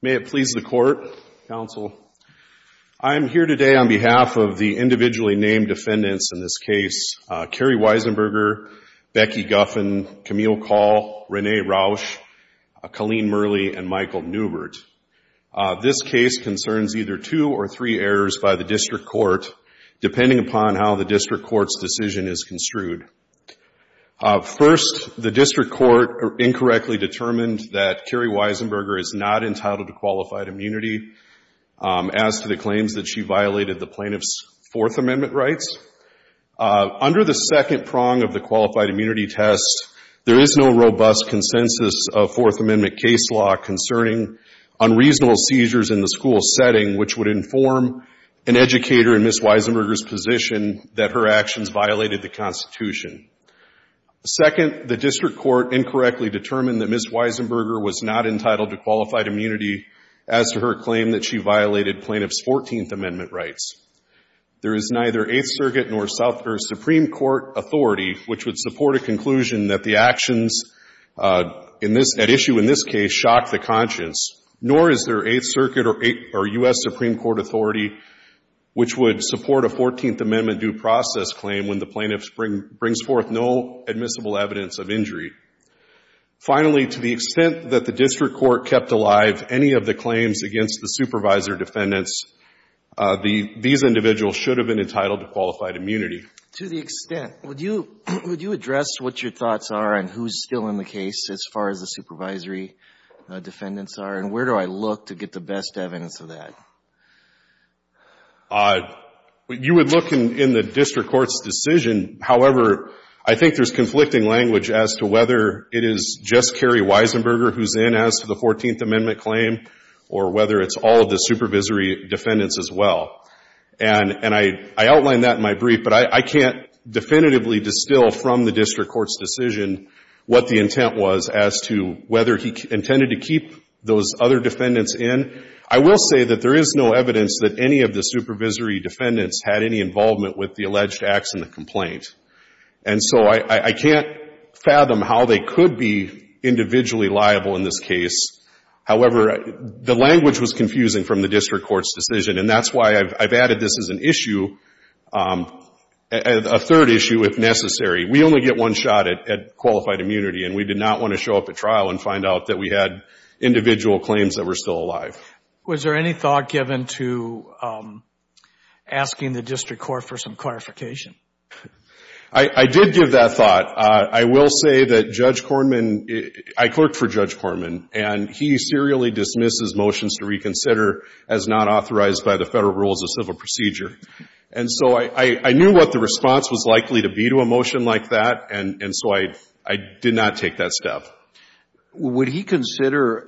May it please the Court, Counsel, I am here today on behalf of the individually named defendants in this case, Kerry Weisenberger, Becky Guffin, Camille Call, Renee Rausch, Colleen Murley, and Michael Newbert. This case concerns either two or three errors by the District Court, depending upon how the District Court's decision is construed. First, the District Court incorrectly determined that Kerry Weisenberger is not entitled to qualified immunity as to the claims that she violated the plaintiff's Fourth Amendment rights. Under the second prong of the qualified immunity test, there is no robust consensus of Fourth Amendment case law concerning unreasonable seizures in the school setting, which would inform an educator in Ms. Weisenberger's position that her actions violated the Constitution. Second, the District Court incorrectly determined that Ms. Weisenberger was not entitled to qualified immunity as to her claim that she violated plaintiff's Fourteenth Amendment rights. There is neither Eighth Circuit nor South or Supreme Court authority which would support a conclusion that the actions at issue in this case shocked the conscience, nor is there Eighth Circuit or U.S. Supreme Court authority which would support a Fourteenth Amendment due process claim when the plaintiff brings forth no admissible evidence of injury. Finally, to the extent that the District Court kept alive any of the claims against the supervisor defendants, these individuals should have been entitled to qualified immunity. To the extent. Would you address what your thoughts are and who is still in the case as far as the supervisory defendants are, and where do I look to get the best evidence of that? You would look in the District Court's decision. However, I think there is conflicting language as to whether it is just Kerry Weisenberger who is in as to the Fourteenth Amendment claim or whether it's all of the supervisory defendants as well. And I outlined that in my brief, but I can't definitively distill from the District Court's decision what the intent was as to whether he intended to keep those other defendants in. I will say that there is no evidence that any of the supervisory defendants had any involvement with the alleged acts in the complaint. And so I can't fathom how they could be individually liable in this case. However, the language was confusing from the District Court's decision, and that's why I've added this as an issue, a third issue if necessary. We only get one shot at qualified immunity, and we did not want to show up at trial and find out that we had individual claims that were still alive. Was there any thought given to asking the District Court for some clarification? I did give that thought. I will say that Judge Korman, I clerked for Judge Korman, and he serially dismisses motions to reconsider as not authorized by the Federal Rules of Civil Procedure. And so I knew what the response was likely to be to a motion like that, and so I did not take that step. Would he consider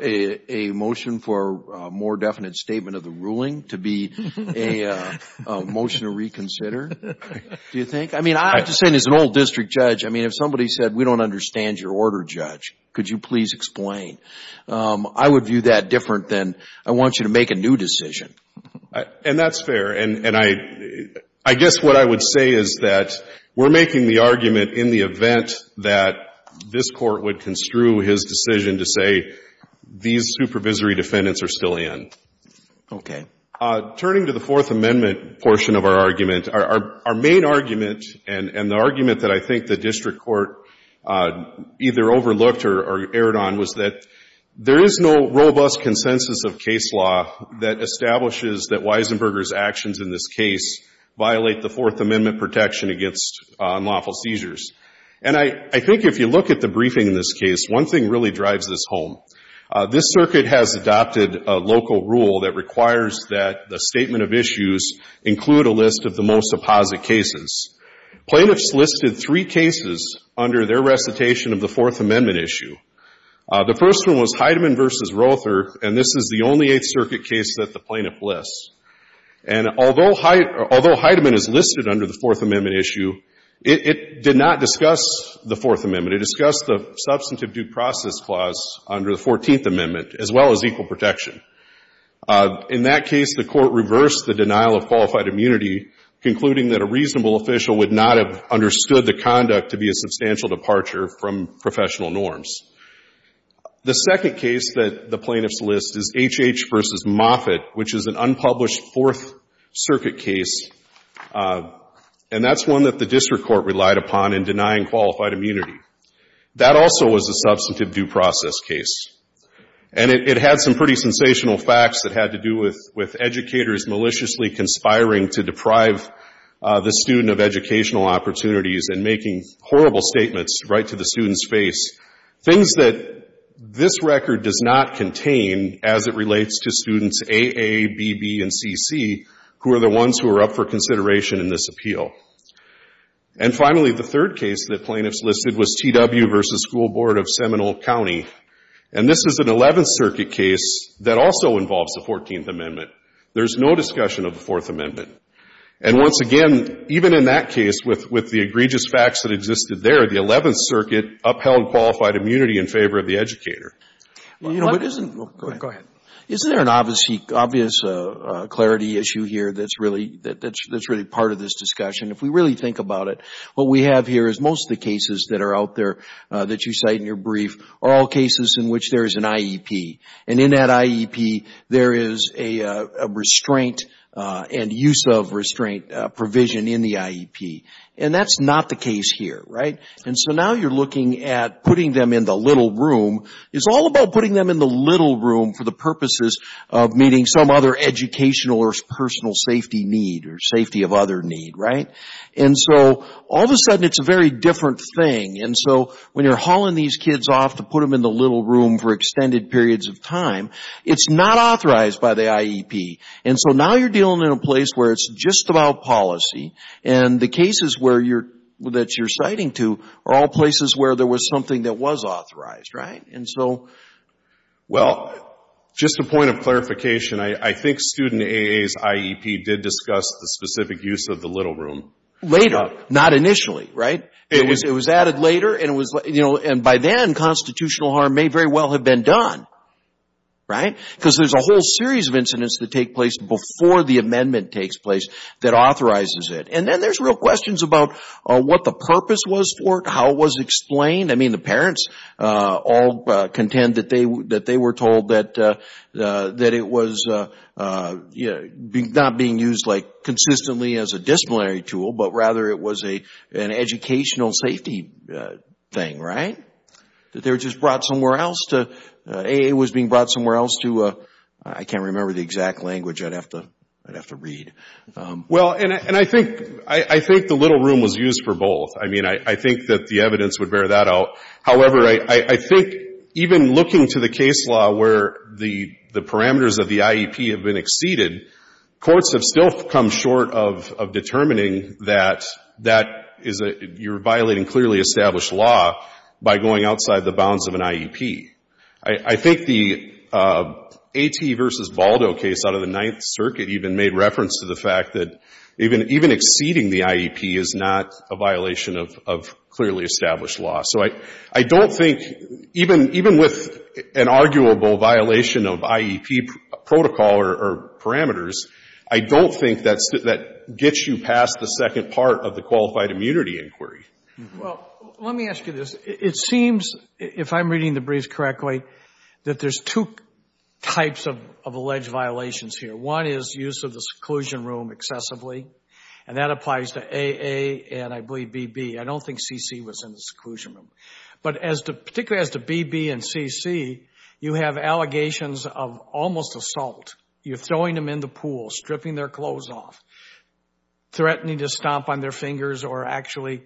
a motion for a more definite statement of the ruling to be a motion to reconsider? Do you think? I mean, I'm just saying, as an old district judge, I mean, if somebody said, we don't understand your order, Judge, could you please explain? I would view that different than, I want you to make a new decision. And that's fair. And I guess what I would say is that we're making the argument in the event that this Court would construe his decision to say these supervisory defendants are still in. Okay. Turning to the Fourth Amendment portion of our argument, our main argument, and the argument that I think the District Court either overlooked or erred on, was that there is no robust consensus of case law that establishes that Weisenberger's actions in this case violate the Fourth Amendment protection against unlawful seizures. And I think if you look at the briefing in this case, one thing really drives this home. This Circuit has adopted a local rule that requires that the statement of issues include a list of the most apposite cases. Plaintiffs listed three cases under their recitation of the Fourth Amendment issue. The first one was Heidemann v. Roether, and this is the only Eighth Circuit case that the plaintiff lists. And although Heidemann is listed under the Fourth Amendment issue, it did not discuss the Fourth Amendment. It discussed the substantive due process clause under the Fourteenth Amendment, as well as equal protection. In that case, the Court reversed the denial of qualified immunity, concluding that a reasonable official would not have understood the conduct to be a substantial departure from professional norms. The second case that the plaintiffs list is H.H. v. Moffitt, which is an unpublished Fourth Circuit case, and that's one that the district court relied upon in denying qualified immunity. That also was a substantive due process case, and it had some pretty sensational facts that had to do with educators maliciously conspiring to deprive the student of educational opportunities and making horrible statements right to the student's face, things that this record does not contain as it relates to students A.A., B.B., and C.C., who are the ones who are up for consideration in this appeal. And finally, the third case that plaintiffs listed was T.W. v. School Board of Seminole County, and this is an Eleventh Circuit case that also involves the Fourteenth Amendment. There's no discussion of the Fourth Amendment. And once again, even in that case, with the egregious facts that existed there, the Eleventh Circuit upheld qualified immunity in favor of the educator. Go ahead. Isn't there an obvious clarity issue here that's really part of this discussion? If we really think about it, what we have here is most of the cases that are out there that you cite in your brief are all cases in which there is an IEP, and in that IEP there is a restraint and use of restraint provision in the IEP. And that's not the case here, right? And so now you're looking at putting them in the little room. It's all about putting them in the little room for the purposes of meeting some other educational or personal safety need or safety of other need, right? And so all of a sudden it's a very different thing. And so when you're hauling these kids off to put them in the little room for extended periods of time, it's not authorized by the IEP. And so now you're dealing in a place where it's just about policy, and the cases that you're citing to are all places where there was something that was authorized, right? And so, well. Just a point of clarification, I think Student AAs IEP did discuss the specific use of the little room. Later. Not initially, right? It was added later, and it was, you know, and by then constitutional harm may very well have been done, right? Because there's a whole series of incidents that take place before the amendment takes place that authorizes it. And then there's real questions about what the purpose was for it, how it was explained. I mean, the parents all contend that they were told that it was, you know, not being used like consistently as a disciplinary tool, but rather it was an educational safety thing, right? That they were just brought somewhere else to, AA was being brought somewhere else to, I can't remember the exact language, I'd have to, I'd have to read. Well, and I think, I think the little room was used for both. I mean, I think that the evidence would bear that out. However, I think even looking to the case law where the parameters of the IEP have been exceeded, courts have still come short of determining that that is a, you're violating clearly established law by going outside the bounds of an IEP. I think the A.T. v. Baldo case out of the Ninth Circuit even made reference to the fact that even, even exceeding the IEP is not a violation of, of clearly established law. So I, I don't think, even, even with an arguable violation of IEP protocol or parameters, I don't think that's, that gets you past the second part of the qualified immunity inquiry. Well, let me ask you this. It seems, if I'm reading the brief correctly, that there's two types of, of alleged violations here. One is use of the seclusion room excessively, and that applies to AA and I believe BB. I don't think CC was in the seclusion room. But as to, particularly as to BB and CC, you have allegations of almost assault. You're throwing them in the pool, stripping their clothes off, threatening to stomp on their fingers or actually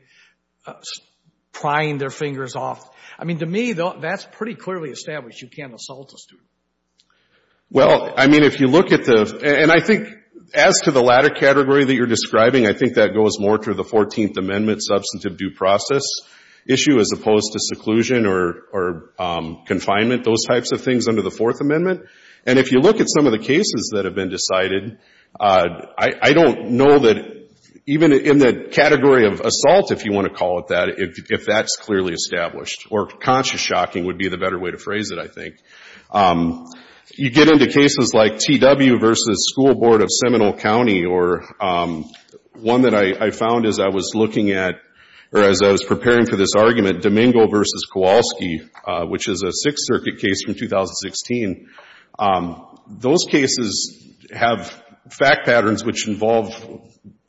prying their fingers off. I mean, to me, though, that's pretty clearly established. You can't assault a student. Well, I mean, if you look at the, and I think as to the latter category that you're describing, I think that goes more to the Fourteenth Amendment substantive due process issue as opposed to seclusion or, or confinement, those types of things under the Fourth Amendment. And if you look at some of the cases that have been decided, I, I don't know that even in the category of assault, if you want to call it that, if, if that's clearly established or conscious shocking would be the better way to phrase it, I think. You get into cases like TW versus School Board of Seminole County or one that I, I found as I was looking at, or as I was preparing for this argument, Domingo versus Kowalski, which is a Sixth Circuit case from 2016. Those cases have fact patterns which involve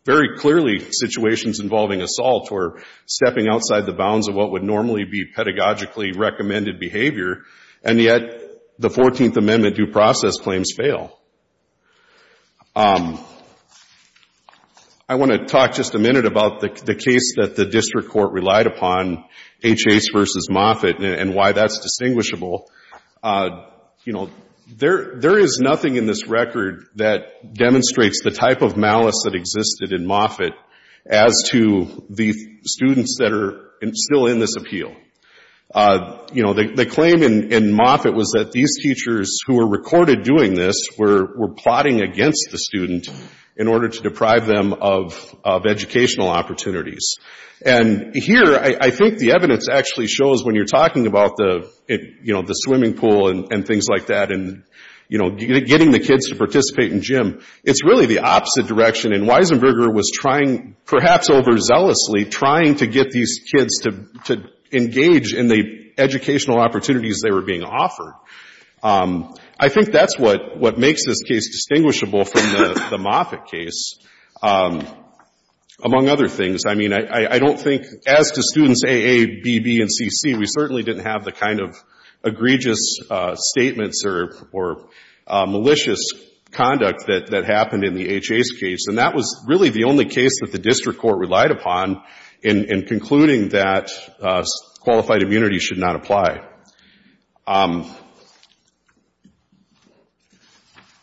very clearly situations involving assault or stepping outside the bounds of what would normally be pedagogically recommended behavior. And yet the Fourteenth Amendment due process claims fail. I want to talk just a minute about the case that the district court relied upon, H. Hays versus Moffitt, and why that's distinguishable. You know, there, there is nothing in this record that demonstrates the type of malice that existed in Moffitt as to the students that are still in this appeal. You know, the claim in, in Moffitt was that these teachers who were recorded doing this were, were plotting against the student in order to deprive them of, of educational opportunities. And here, I, I think the evidence actually shows when you're talking about the, you know, the swimming pool and, and things like that and, you know, getting the kids to participate in gym, it's really the opposite direction. And Weisenberger was trying, perhaps overzealously, trying to get these kids to, to engage in the educational opportunities they were being offered. I think that's what, what makes this case distinguishable from the, the Moffitt case. Among other things, I mean, I, I don't think, as to students A, A, B, B, and C, C, we certainly didn't have the kind of egregious statements or, or malicious conduct that, that happened in the H. Hays case. And that was really the only case that the district court relied upon in, in concluding that qualified immunity should not apply.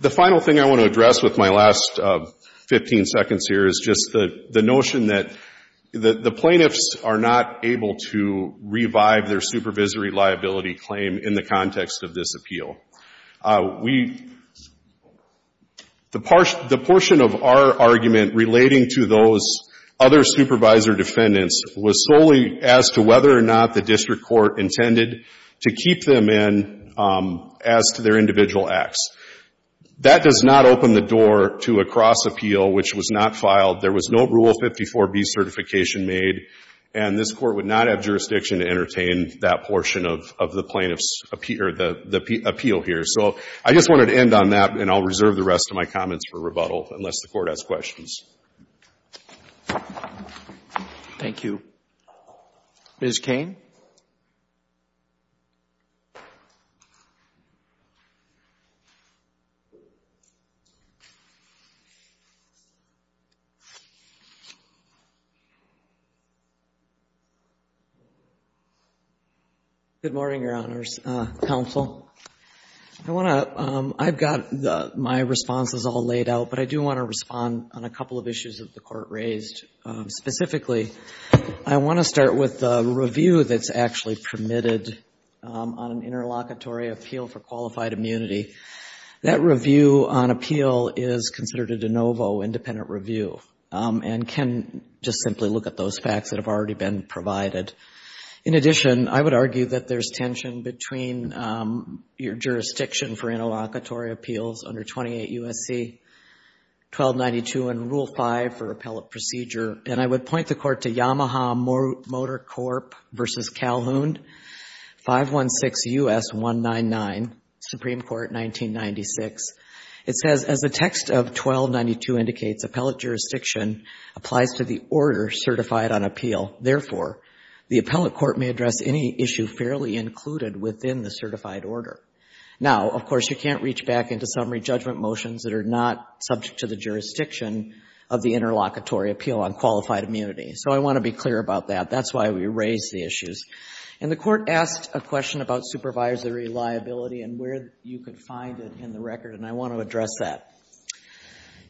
The final thing I want to address with my last 15 seconds here is just the, the notion that the, the plaintiffs are not able to revive their supervisory liability claim in the context of this appeal. We, the, the portion of our argument relating to those other supervisor defendants was solely as to whether or not the district court intended to keep them in as to their individual acts. That does not open the door to a cross-appeal, which was not filed. There was no Rule 54b certification made, and this Court would not have jurisdiction to entertain that portion of, of the plaintiffs' appeal, or the, the appeal here. So I just wanted to end on that, and I'll reserve the rest of my comments for rebuttal, unless the Court has questions. Thank you. Ms. Cain. Good morning, Your Honors. Counsel. I want to, I've got the, my responses all laid out, but I do want to respond on a couple of issues that the Court raised. Specifically, I want to start with a review that's actually permitted on an interlocutory appeal for qualified immunity. That review on appeal is considered a de novo independent review, and can just simply look at those facts that have already been provided. In addition, I would argue that there's tension between your jurisdiction for interlocutory appeals under 28 U.S.C. 1292 and Rule 5 for appellate procedure, and I would point the Court to Yamaha Motor Corp. v. Calhoun, 516 U.S. 199, Supreme Court, 1996. It says, as the text of 1292 indicates, appellate jurisdiction applies to the order certified on appeal. Therefore, the appellate court may address any issue fairly included within the certified order. Now, of course, you can't reach back into summary judgment motions that are not subject to the jurisdiction of the interlocutory appeal on qualified immunity. So I want to be clear about that. That's why we raised the issues. And the Court asked a question about supervisory liability and where you could find it in the record, and I want to address that.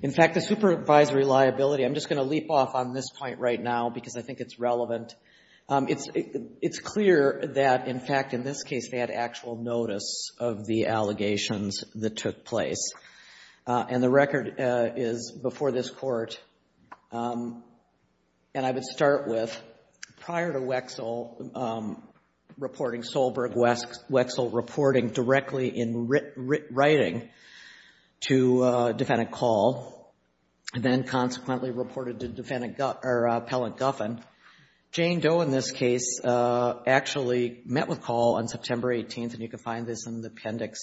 In fact, the supervisory liability, I'm just going to leap off on this point right now because I think it's relevant. It's clear that, in fact, in this case, they had actual notice of the allegations that took place. And the record is before this Court, and I would start with, prior to Wexel reporting Solberg-Wexel reporting directly in writing to defendant Call, then consequently reported to defendant Guffin, or appellant Guffin, Jane Doe, in this case, actually met with Call on September 18th, and you can find this in the appendix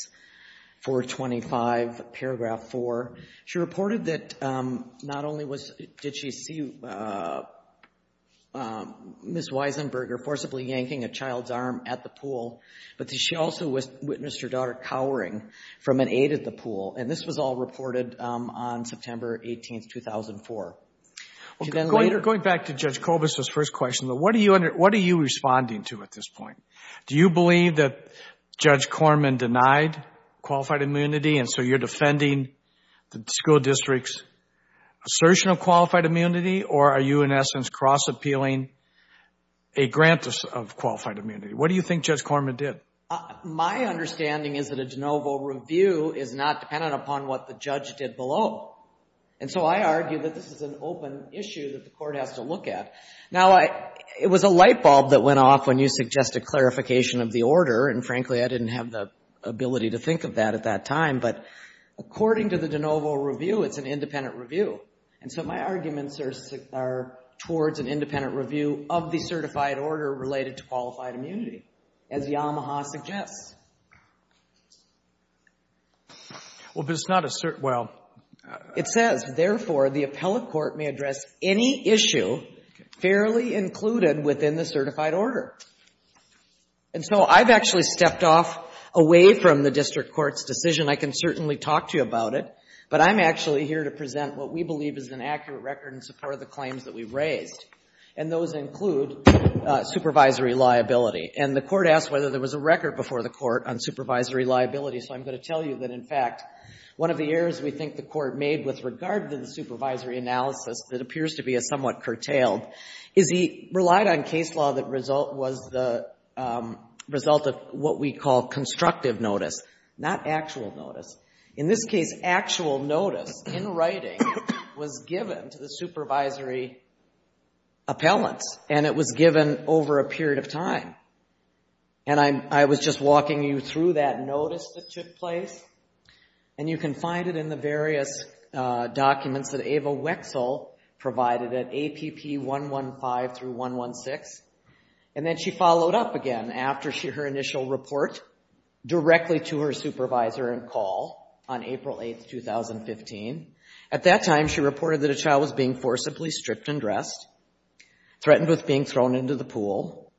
425, paragraph 4. She reported that not only did she see Ms. Weisenberger forcibly yanking a child's arm at the pool, but that she also witnessed her daughter cowering from an aide at the pool. And this was all reported on September 18th, 2004. Going back to Judge Kovas' first question, what are you responding to at this point? Do you believe that Judge Corman denied qualified immunity, and so you're defending the school district's assertion of qualified immunity, or are you, in essence, cross-appealing a grant of qualified immunity? What do you think Judge Corman did? My understanding is that a de novo review is not dependent upon what the judge did below. And so I argue that this is an open issue that the court has to look at. Now, it was a light bulb that went off when you suggested clarification of the order, and frankly I didn't have the ability to think of that at that time, but according to the de novo review, it's an independent review. And so my arguments are towards an independent review of the certified order related to qualified immunity, as Yamaha suggests. Well, but it's not a cert—well— It says, therefore, the appellate court may address any issue fairly included within the certified order. And so I've actually stepped off away from the district court's decision. I can certainly talk to you about it, but I'm actually here to present what we believe is an accurate record in support of the claims that we've raised, and those include supervisory liability. And the court asked whether there was a record before the court on supervisory liability. So I'm going to tell you that in fact, one of the errors we think the court made with regard to the supervisory analysis that appears to be somewhat curtailed is he relied on case law that was the result of what we call constructive notice, not actual notice. In this case, actual notice in writing was given to the supervisory appellants, and it was given over a period of time. And I was just walking you through that notice that took place, and you can find it in the various documents that Ava Wexel provided at APP 115 through 116. And then she followed up again after her initial report directly to her supervisor and call on April 8, 2015. At that time, she reported that a child was being forcibly stripped and dressed, threatened with being thrown into the pool,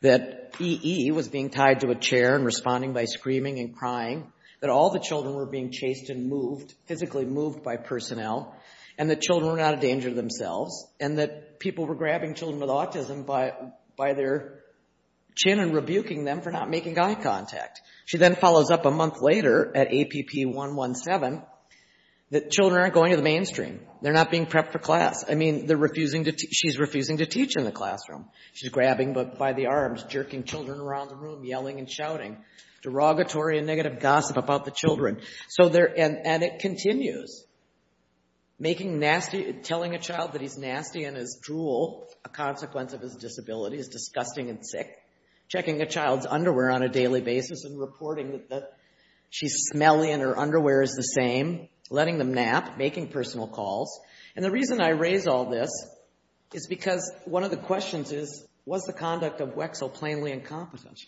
that E.E. was being tied to a chair and responding by screaming and crying, that all the children were being chased and moved, physically moved by personnel, and that children were not a danger to themselves, and that people were grabbing children with autism by their chin and rebuking them for not making eye contact. She then follows up a month later at APP 117 that children aren't going to the mainstream. They're not being prepped for class. I mean, she's refusing to teach in the classroom. She's grabbing by the arms, jerking children around the room, yelling and shouting, derogatory and negative gossip about the children. And it continues, making nasty, telling a child that he's nasty and is drool, a consequence of his disability, is disgusting and sick, checking a child's underwear on a daily basis and reporting that she's smelly and her underwear is the same, letting them nap, making personal calls. And the reason I raise all this is because one of the questions is, was the conduct of WEXL plainly incompetent?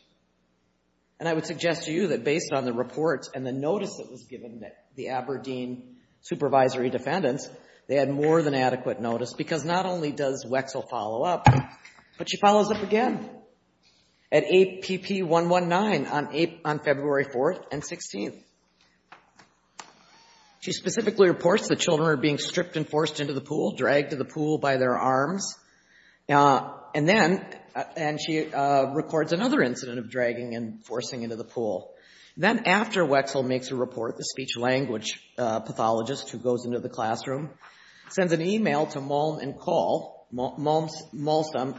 And I would suggest to you that based on the reports and the notice that was given that the Aberdeen supervisory defendants, they had more than adequate notice because not only does WEXL follow up, but she follows up again at APP 119 on February 4th and 16th. She specifically reports that children are being stripped and forced into the pool, dragged to the pool by their arms. And then, and she records another incident of dragging and forcing into the pool. Then after WEXL makes a report, the speech-language pathologist who goes into the classroom sends an email to Molsom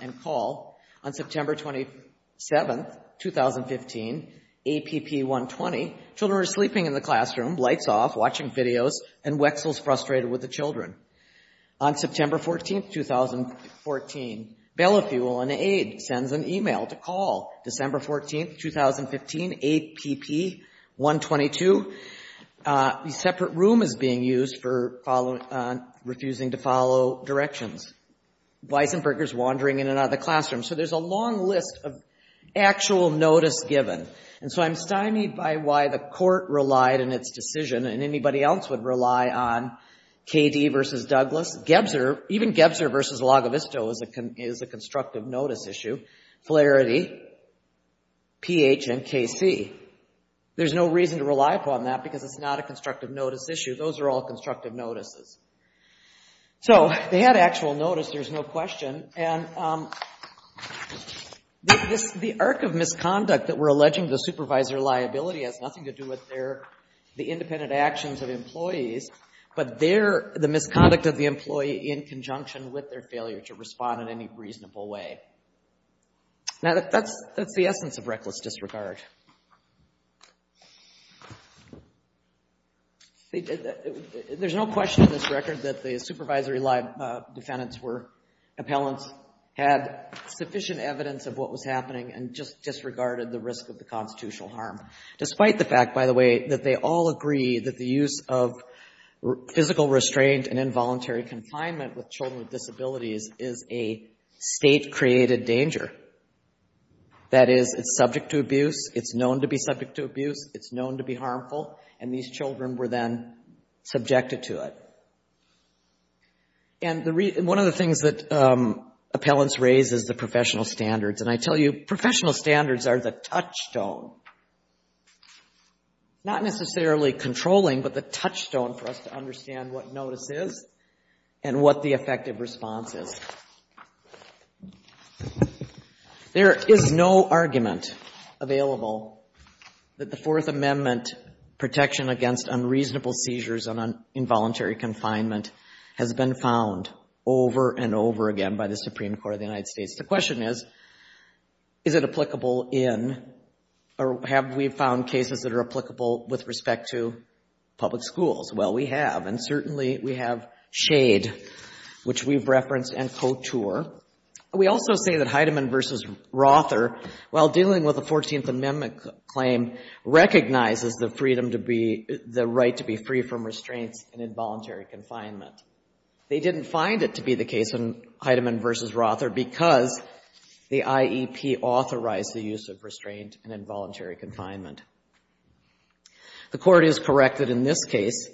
and Call on September 27th, 2015, APP 120, children are sleeping in the classroom, lights off, watching videos, and WEXL's frustrated with the children. On September 14th, 2014, Belafuel, an aide, sends an email to Call December 14th, 2015, APP 122, a separate room is being used for refusing to follow directions. Weissenberger's wandering in and out of the classroom. So there's a long list of actual notice given. And so I'm stymied by why the court relied on its decision and anybody else would rely on KD v. Douglas, Gebser, even Gebser v. Lagavisto is a constructive notice issue, Flaherty, PH, and KC. There's no reason to rely upon that because it's not a constructive notice issue. Those are all constructive notices. So they had actual notice, there's no question. And the arc of misconduct that we're alleging the supervisor liability has nothing to do with the independent actions of employees, but the misconduct of the employee in conjunction with their failure to respond in any reasonable way. Now that's the essence of reckless disregard. There's no question in this record that the supervisory defendants were, appellants had sufficient evidence of what was happening and just disregarded the risk of the constitutional harm. Despite the fact, by the way, that they all agree that the use of physical restraint and involuntary confinement with children with disabilities is a state-created danger. That is, it's subject to abuse, it's known to be subject to abuse, it's known to be harmful, and these children were then subjected to it. And one of the things that appellants raise is the professional standards. And I tell you, professional standards are the touchstone. Not necessarily controlling, but the touchstone for us to understand what notice is and what the effective response is. There is no argument available that the Fourth Amendment protection against unreasonable seizures and involuntary confinement has been found over and over again by the Supreme Court of the United States. The question is, is it applicable in, or have we found cases that are applicable with respect to public schools? Well, we have, and certainly we have Shade, which we've referenced, and Couture. We also say that Heidemann v. Rother, while dealing with the Fourteenth Amendment claim, recognizes the freedom to be, the right to be free from restraints and involuntary confinement. They didn't find it to be the case in Heidemann v. Rother because the IEP authorized the use of restraint and involuntary confinement. The Court is correct that in this case,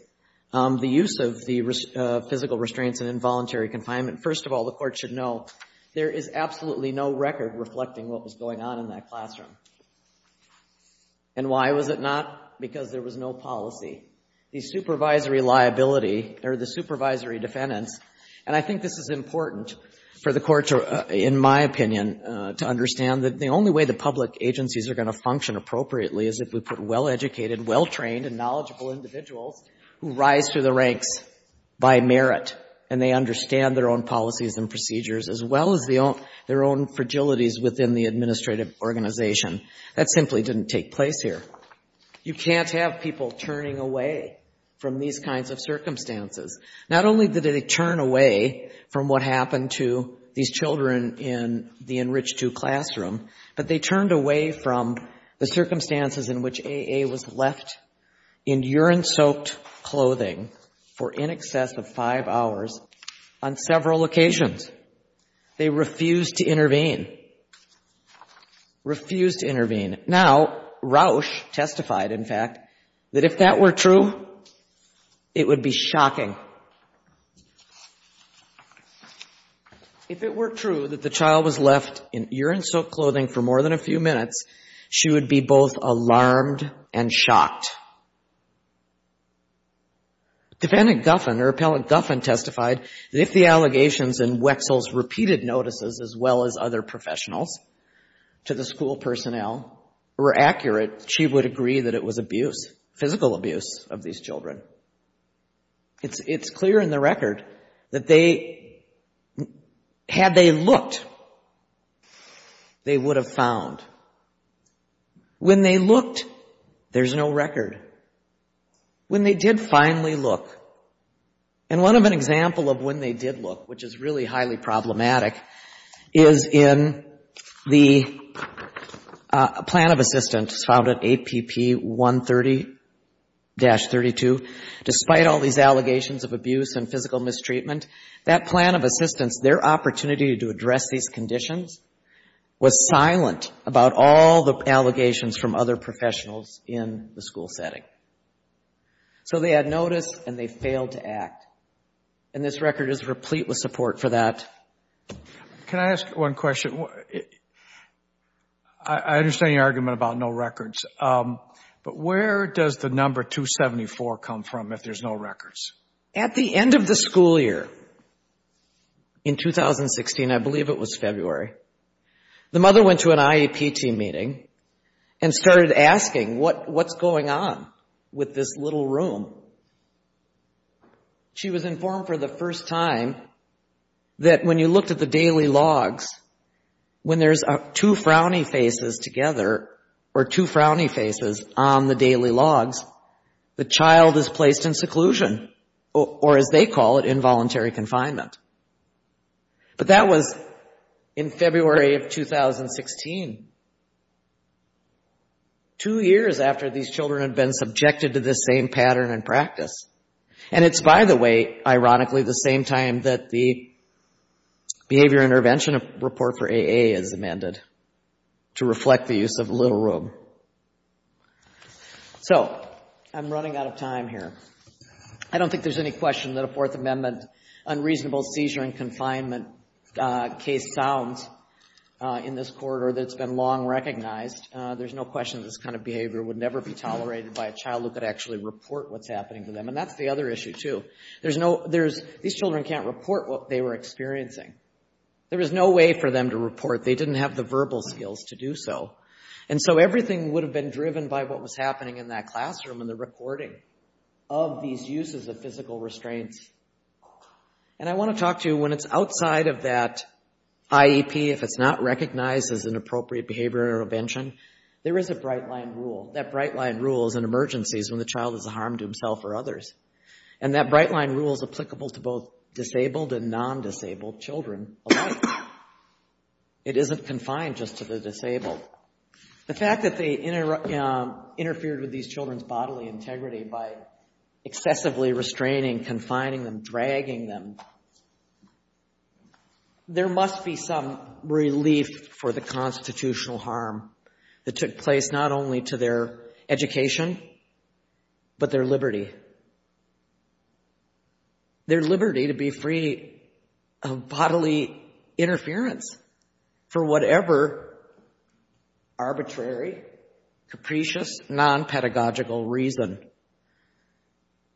the use of the physical restraints and involuntary confinement, first of all, the Court should know there is absolutely no record reflecting what was going on in that classroom. And why was it not? Because there was no policy. The supervisory liability, or the supervisory defendants, and I think this is important for the Court to, in my opinion, to understand that the only way the public agencies are going to function appropriately is if we put well-educated, well-trained, and knowledgeable individuals who rise through the ranks by merit, and they understand their own policies and procedures, as well as their own fragilities within the administrative organization. That simply didn't take place here. You can't have people turning away from these kinds of circumstances. Not only did they turn away from what happened to these children in the Enrich II classroom, but they turned away from the circumstances in which A.A. was left in urine-soaked clothing for in excess of five hours on several occasions. They refused to intervene. Refused to intervene. Now, Rausch testified, in fact, that if that were true, it would be shocking. Now, if it were true that the child was left in urine-soaked clothing for more than a few minutes, she would be both alarmed and shocked. Defendant Guffin, or Appellant Guffin, testified that if the allegations in Wexall's repeated notices, as well as other professionals, to the school personnel were accurate, she would agree that it was abuse, physical abuse, of these children. It's clear in the record that had they looked, they would have found. When they looked, there's no record. When they did finally look, and one of an example of when they did look, which is really despite all these allegations of abuse and physical mistreatment, that plan of assistance, their opportunity to address these conditions, was silent about all the allegations from other professionals in the school setting. So they had noticed, and they failed to act, and this record is replete with support for that. Can I ask one question? I understand your argument about no records, but where does the number 274 come from if there's no records? At the end of the school year, in 2016, I believe it was February, the mother went to an IEP team meeting and started asking what's going on with this little room. She was informed for the first time that when you looked at the daily logs, when there's two frowny faces together, or two frowny faces on the daily logs, the child is placed in seclusion, or as they call it, involuntary confinement. But that was in February of 2016, two years after these children had been subjected to this same pattern and practice. And it's, by the way, ironically, the same time that the Behavior Intervention Report for AA is amended to reflect the use of the little room. So I'm running out of time here. I don't think there's any question that a Fourth Amendment unreasonable seizure and confinement case sounds in this corridor that's been long recognized. There's no question that this kind of behavior would never be tolerated by a child who could actually report what's happening to them. And that's the other issue, too. These children can't report what they were experiencing. There was no way for them to report. They didn't have the verbal skills to do so. And so everything would have been driven by what was happening in that classroom and the recording of these uses of physical restraints. And I want to talk to you, when it's outside of that IEP, if it's not recognized as an There is a bright-line rule. That bright-line rule is in emergencies when the child does harm to himself or others. And that bright-line rule is applicable to both disabled and non-disabled children alike. It isn't confined just to the disabled. The fact that they interfered with these children's bodily integrity by excessively restraining, confining them, dragging them, there must be some relief for the constitutional harm that took place not only to their education, but their liberty. Their liberty to be free of bodily interference for whatever arbitrary, capricious, non-pedagogical reason.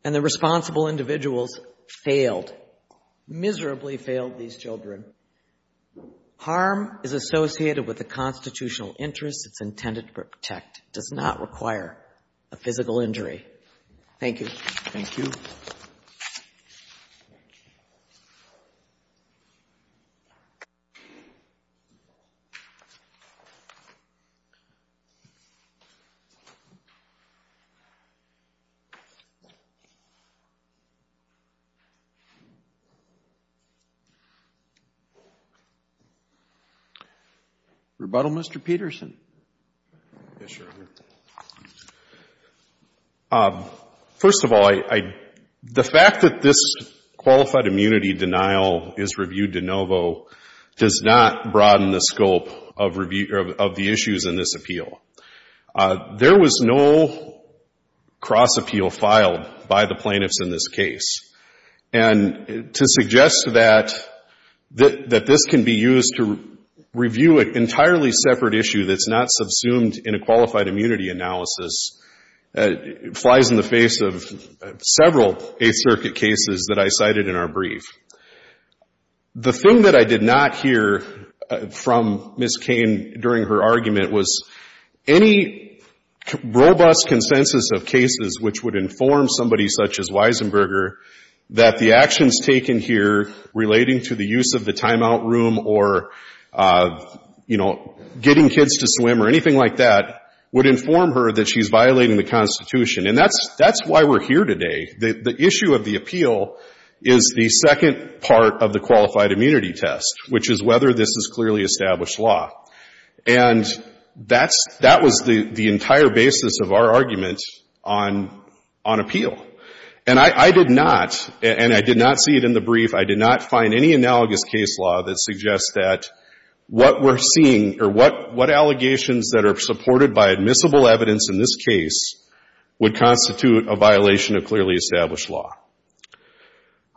And the responsible individuals failed, miserably failed these children. Harm is associated with a constitutional interest. It's intended to protect. It does not require a physical injury. Thank you. Rebuttal, Mr. Peterson. Yes, Your Honor. First of all, the fact that this qualified immunity denial is reviewed de novo does not broaden the scope of the issues in this appeal. There was no cross-appeal filed by the plaintiffs in this case. And to suggest that this can be used to review an entirely separate issue that's not subsumed in a qualified immunity analysis flies in the face of several Eighth Circuit cases that I cited in our brief. The thing that I did not hear from Ms. Cain during her argument was any robust consensus of cases which would inform somebody such as Weisenberger that the actions taken here relating to the use of the timeout room or, you know, getting kids to swim or anything like that would inform her that she's violating the Constitution. And that's why we're here today. The issue of the appeal is the second part of the qualified immunity test, which is whether this is clearly established law. And that's — that was the entire basis of our argument on appeal. And I did not — and I did not see it in the brief. I did not find any analogous case law that suggests that what we're seeing or what allegations that are supported by admissible evidence in this case would constitute a violation of clearly established law.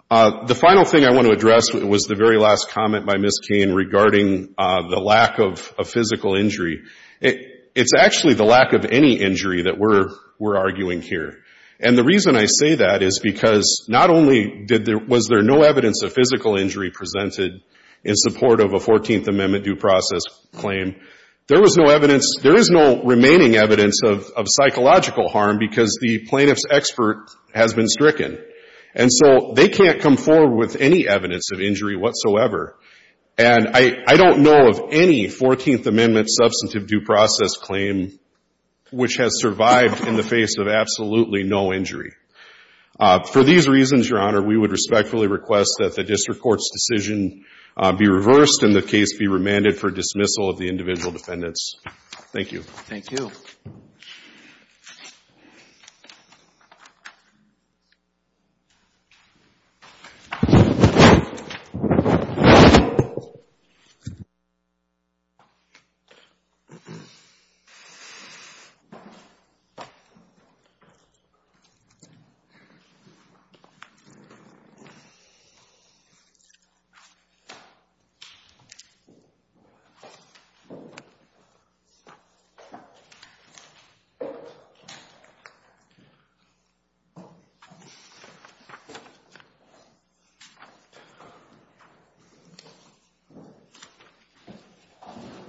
The final thing I want to address was the very last comment by Ms. Cain regarding the lack of a physical injury. It's actually the lack of any injury that we're arguing here. And the reason I say that is because not only did there — was there no evidence of physical injury presented in support of a 14th Amendment due process claim, there was no evidence — there is no remaining evidence of psychological harm because the plaintiff's expert has been stricken. And so they can't come forward with any evidence of injury whatsoever. And I don't know of any 14th Amendment substantive due process claim which has survived in the face of absolutely no injury. For these reasons, Your Honor, we would respectfully request that the district court's decision be reversed and the case be remanded for dismissal of the individual defendants. Thank you. Thank you.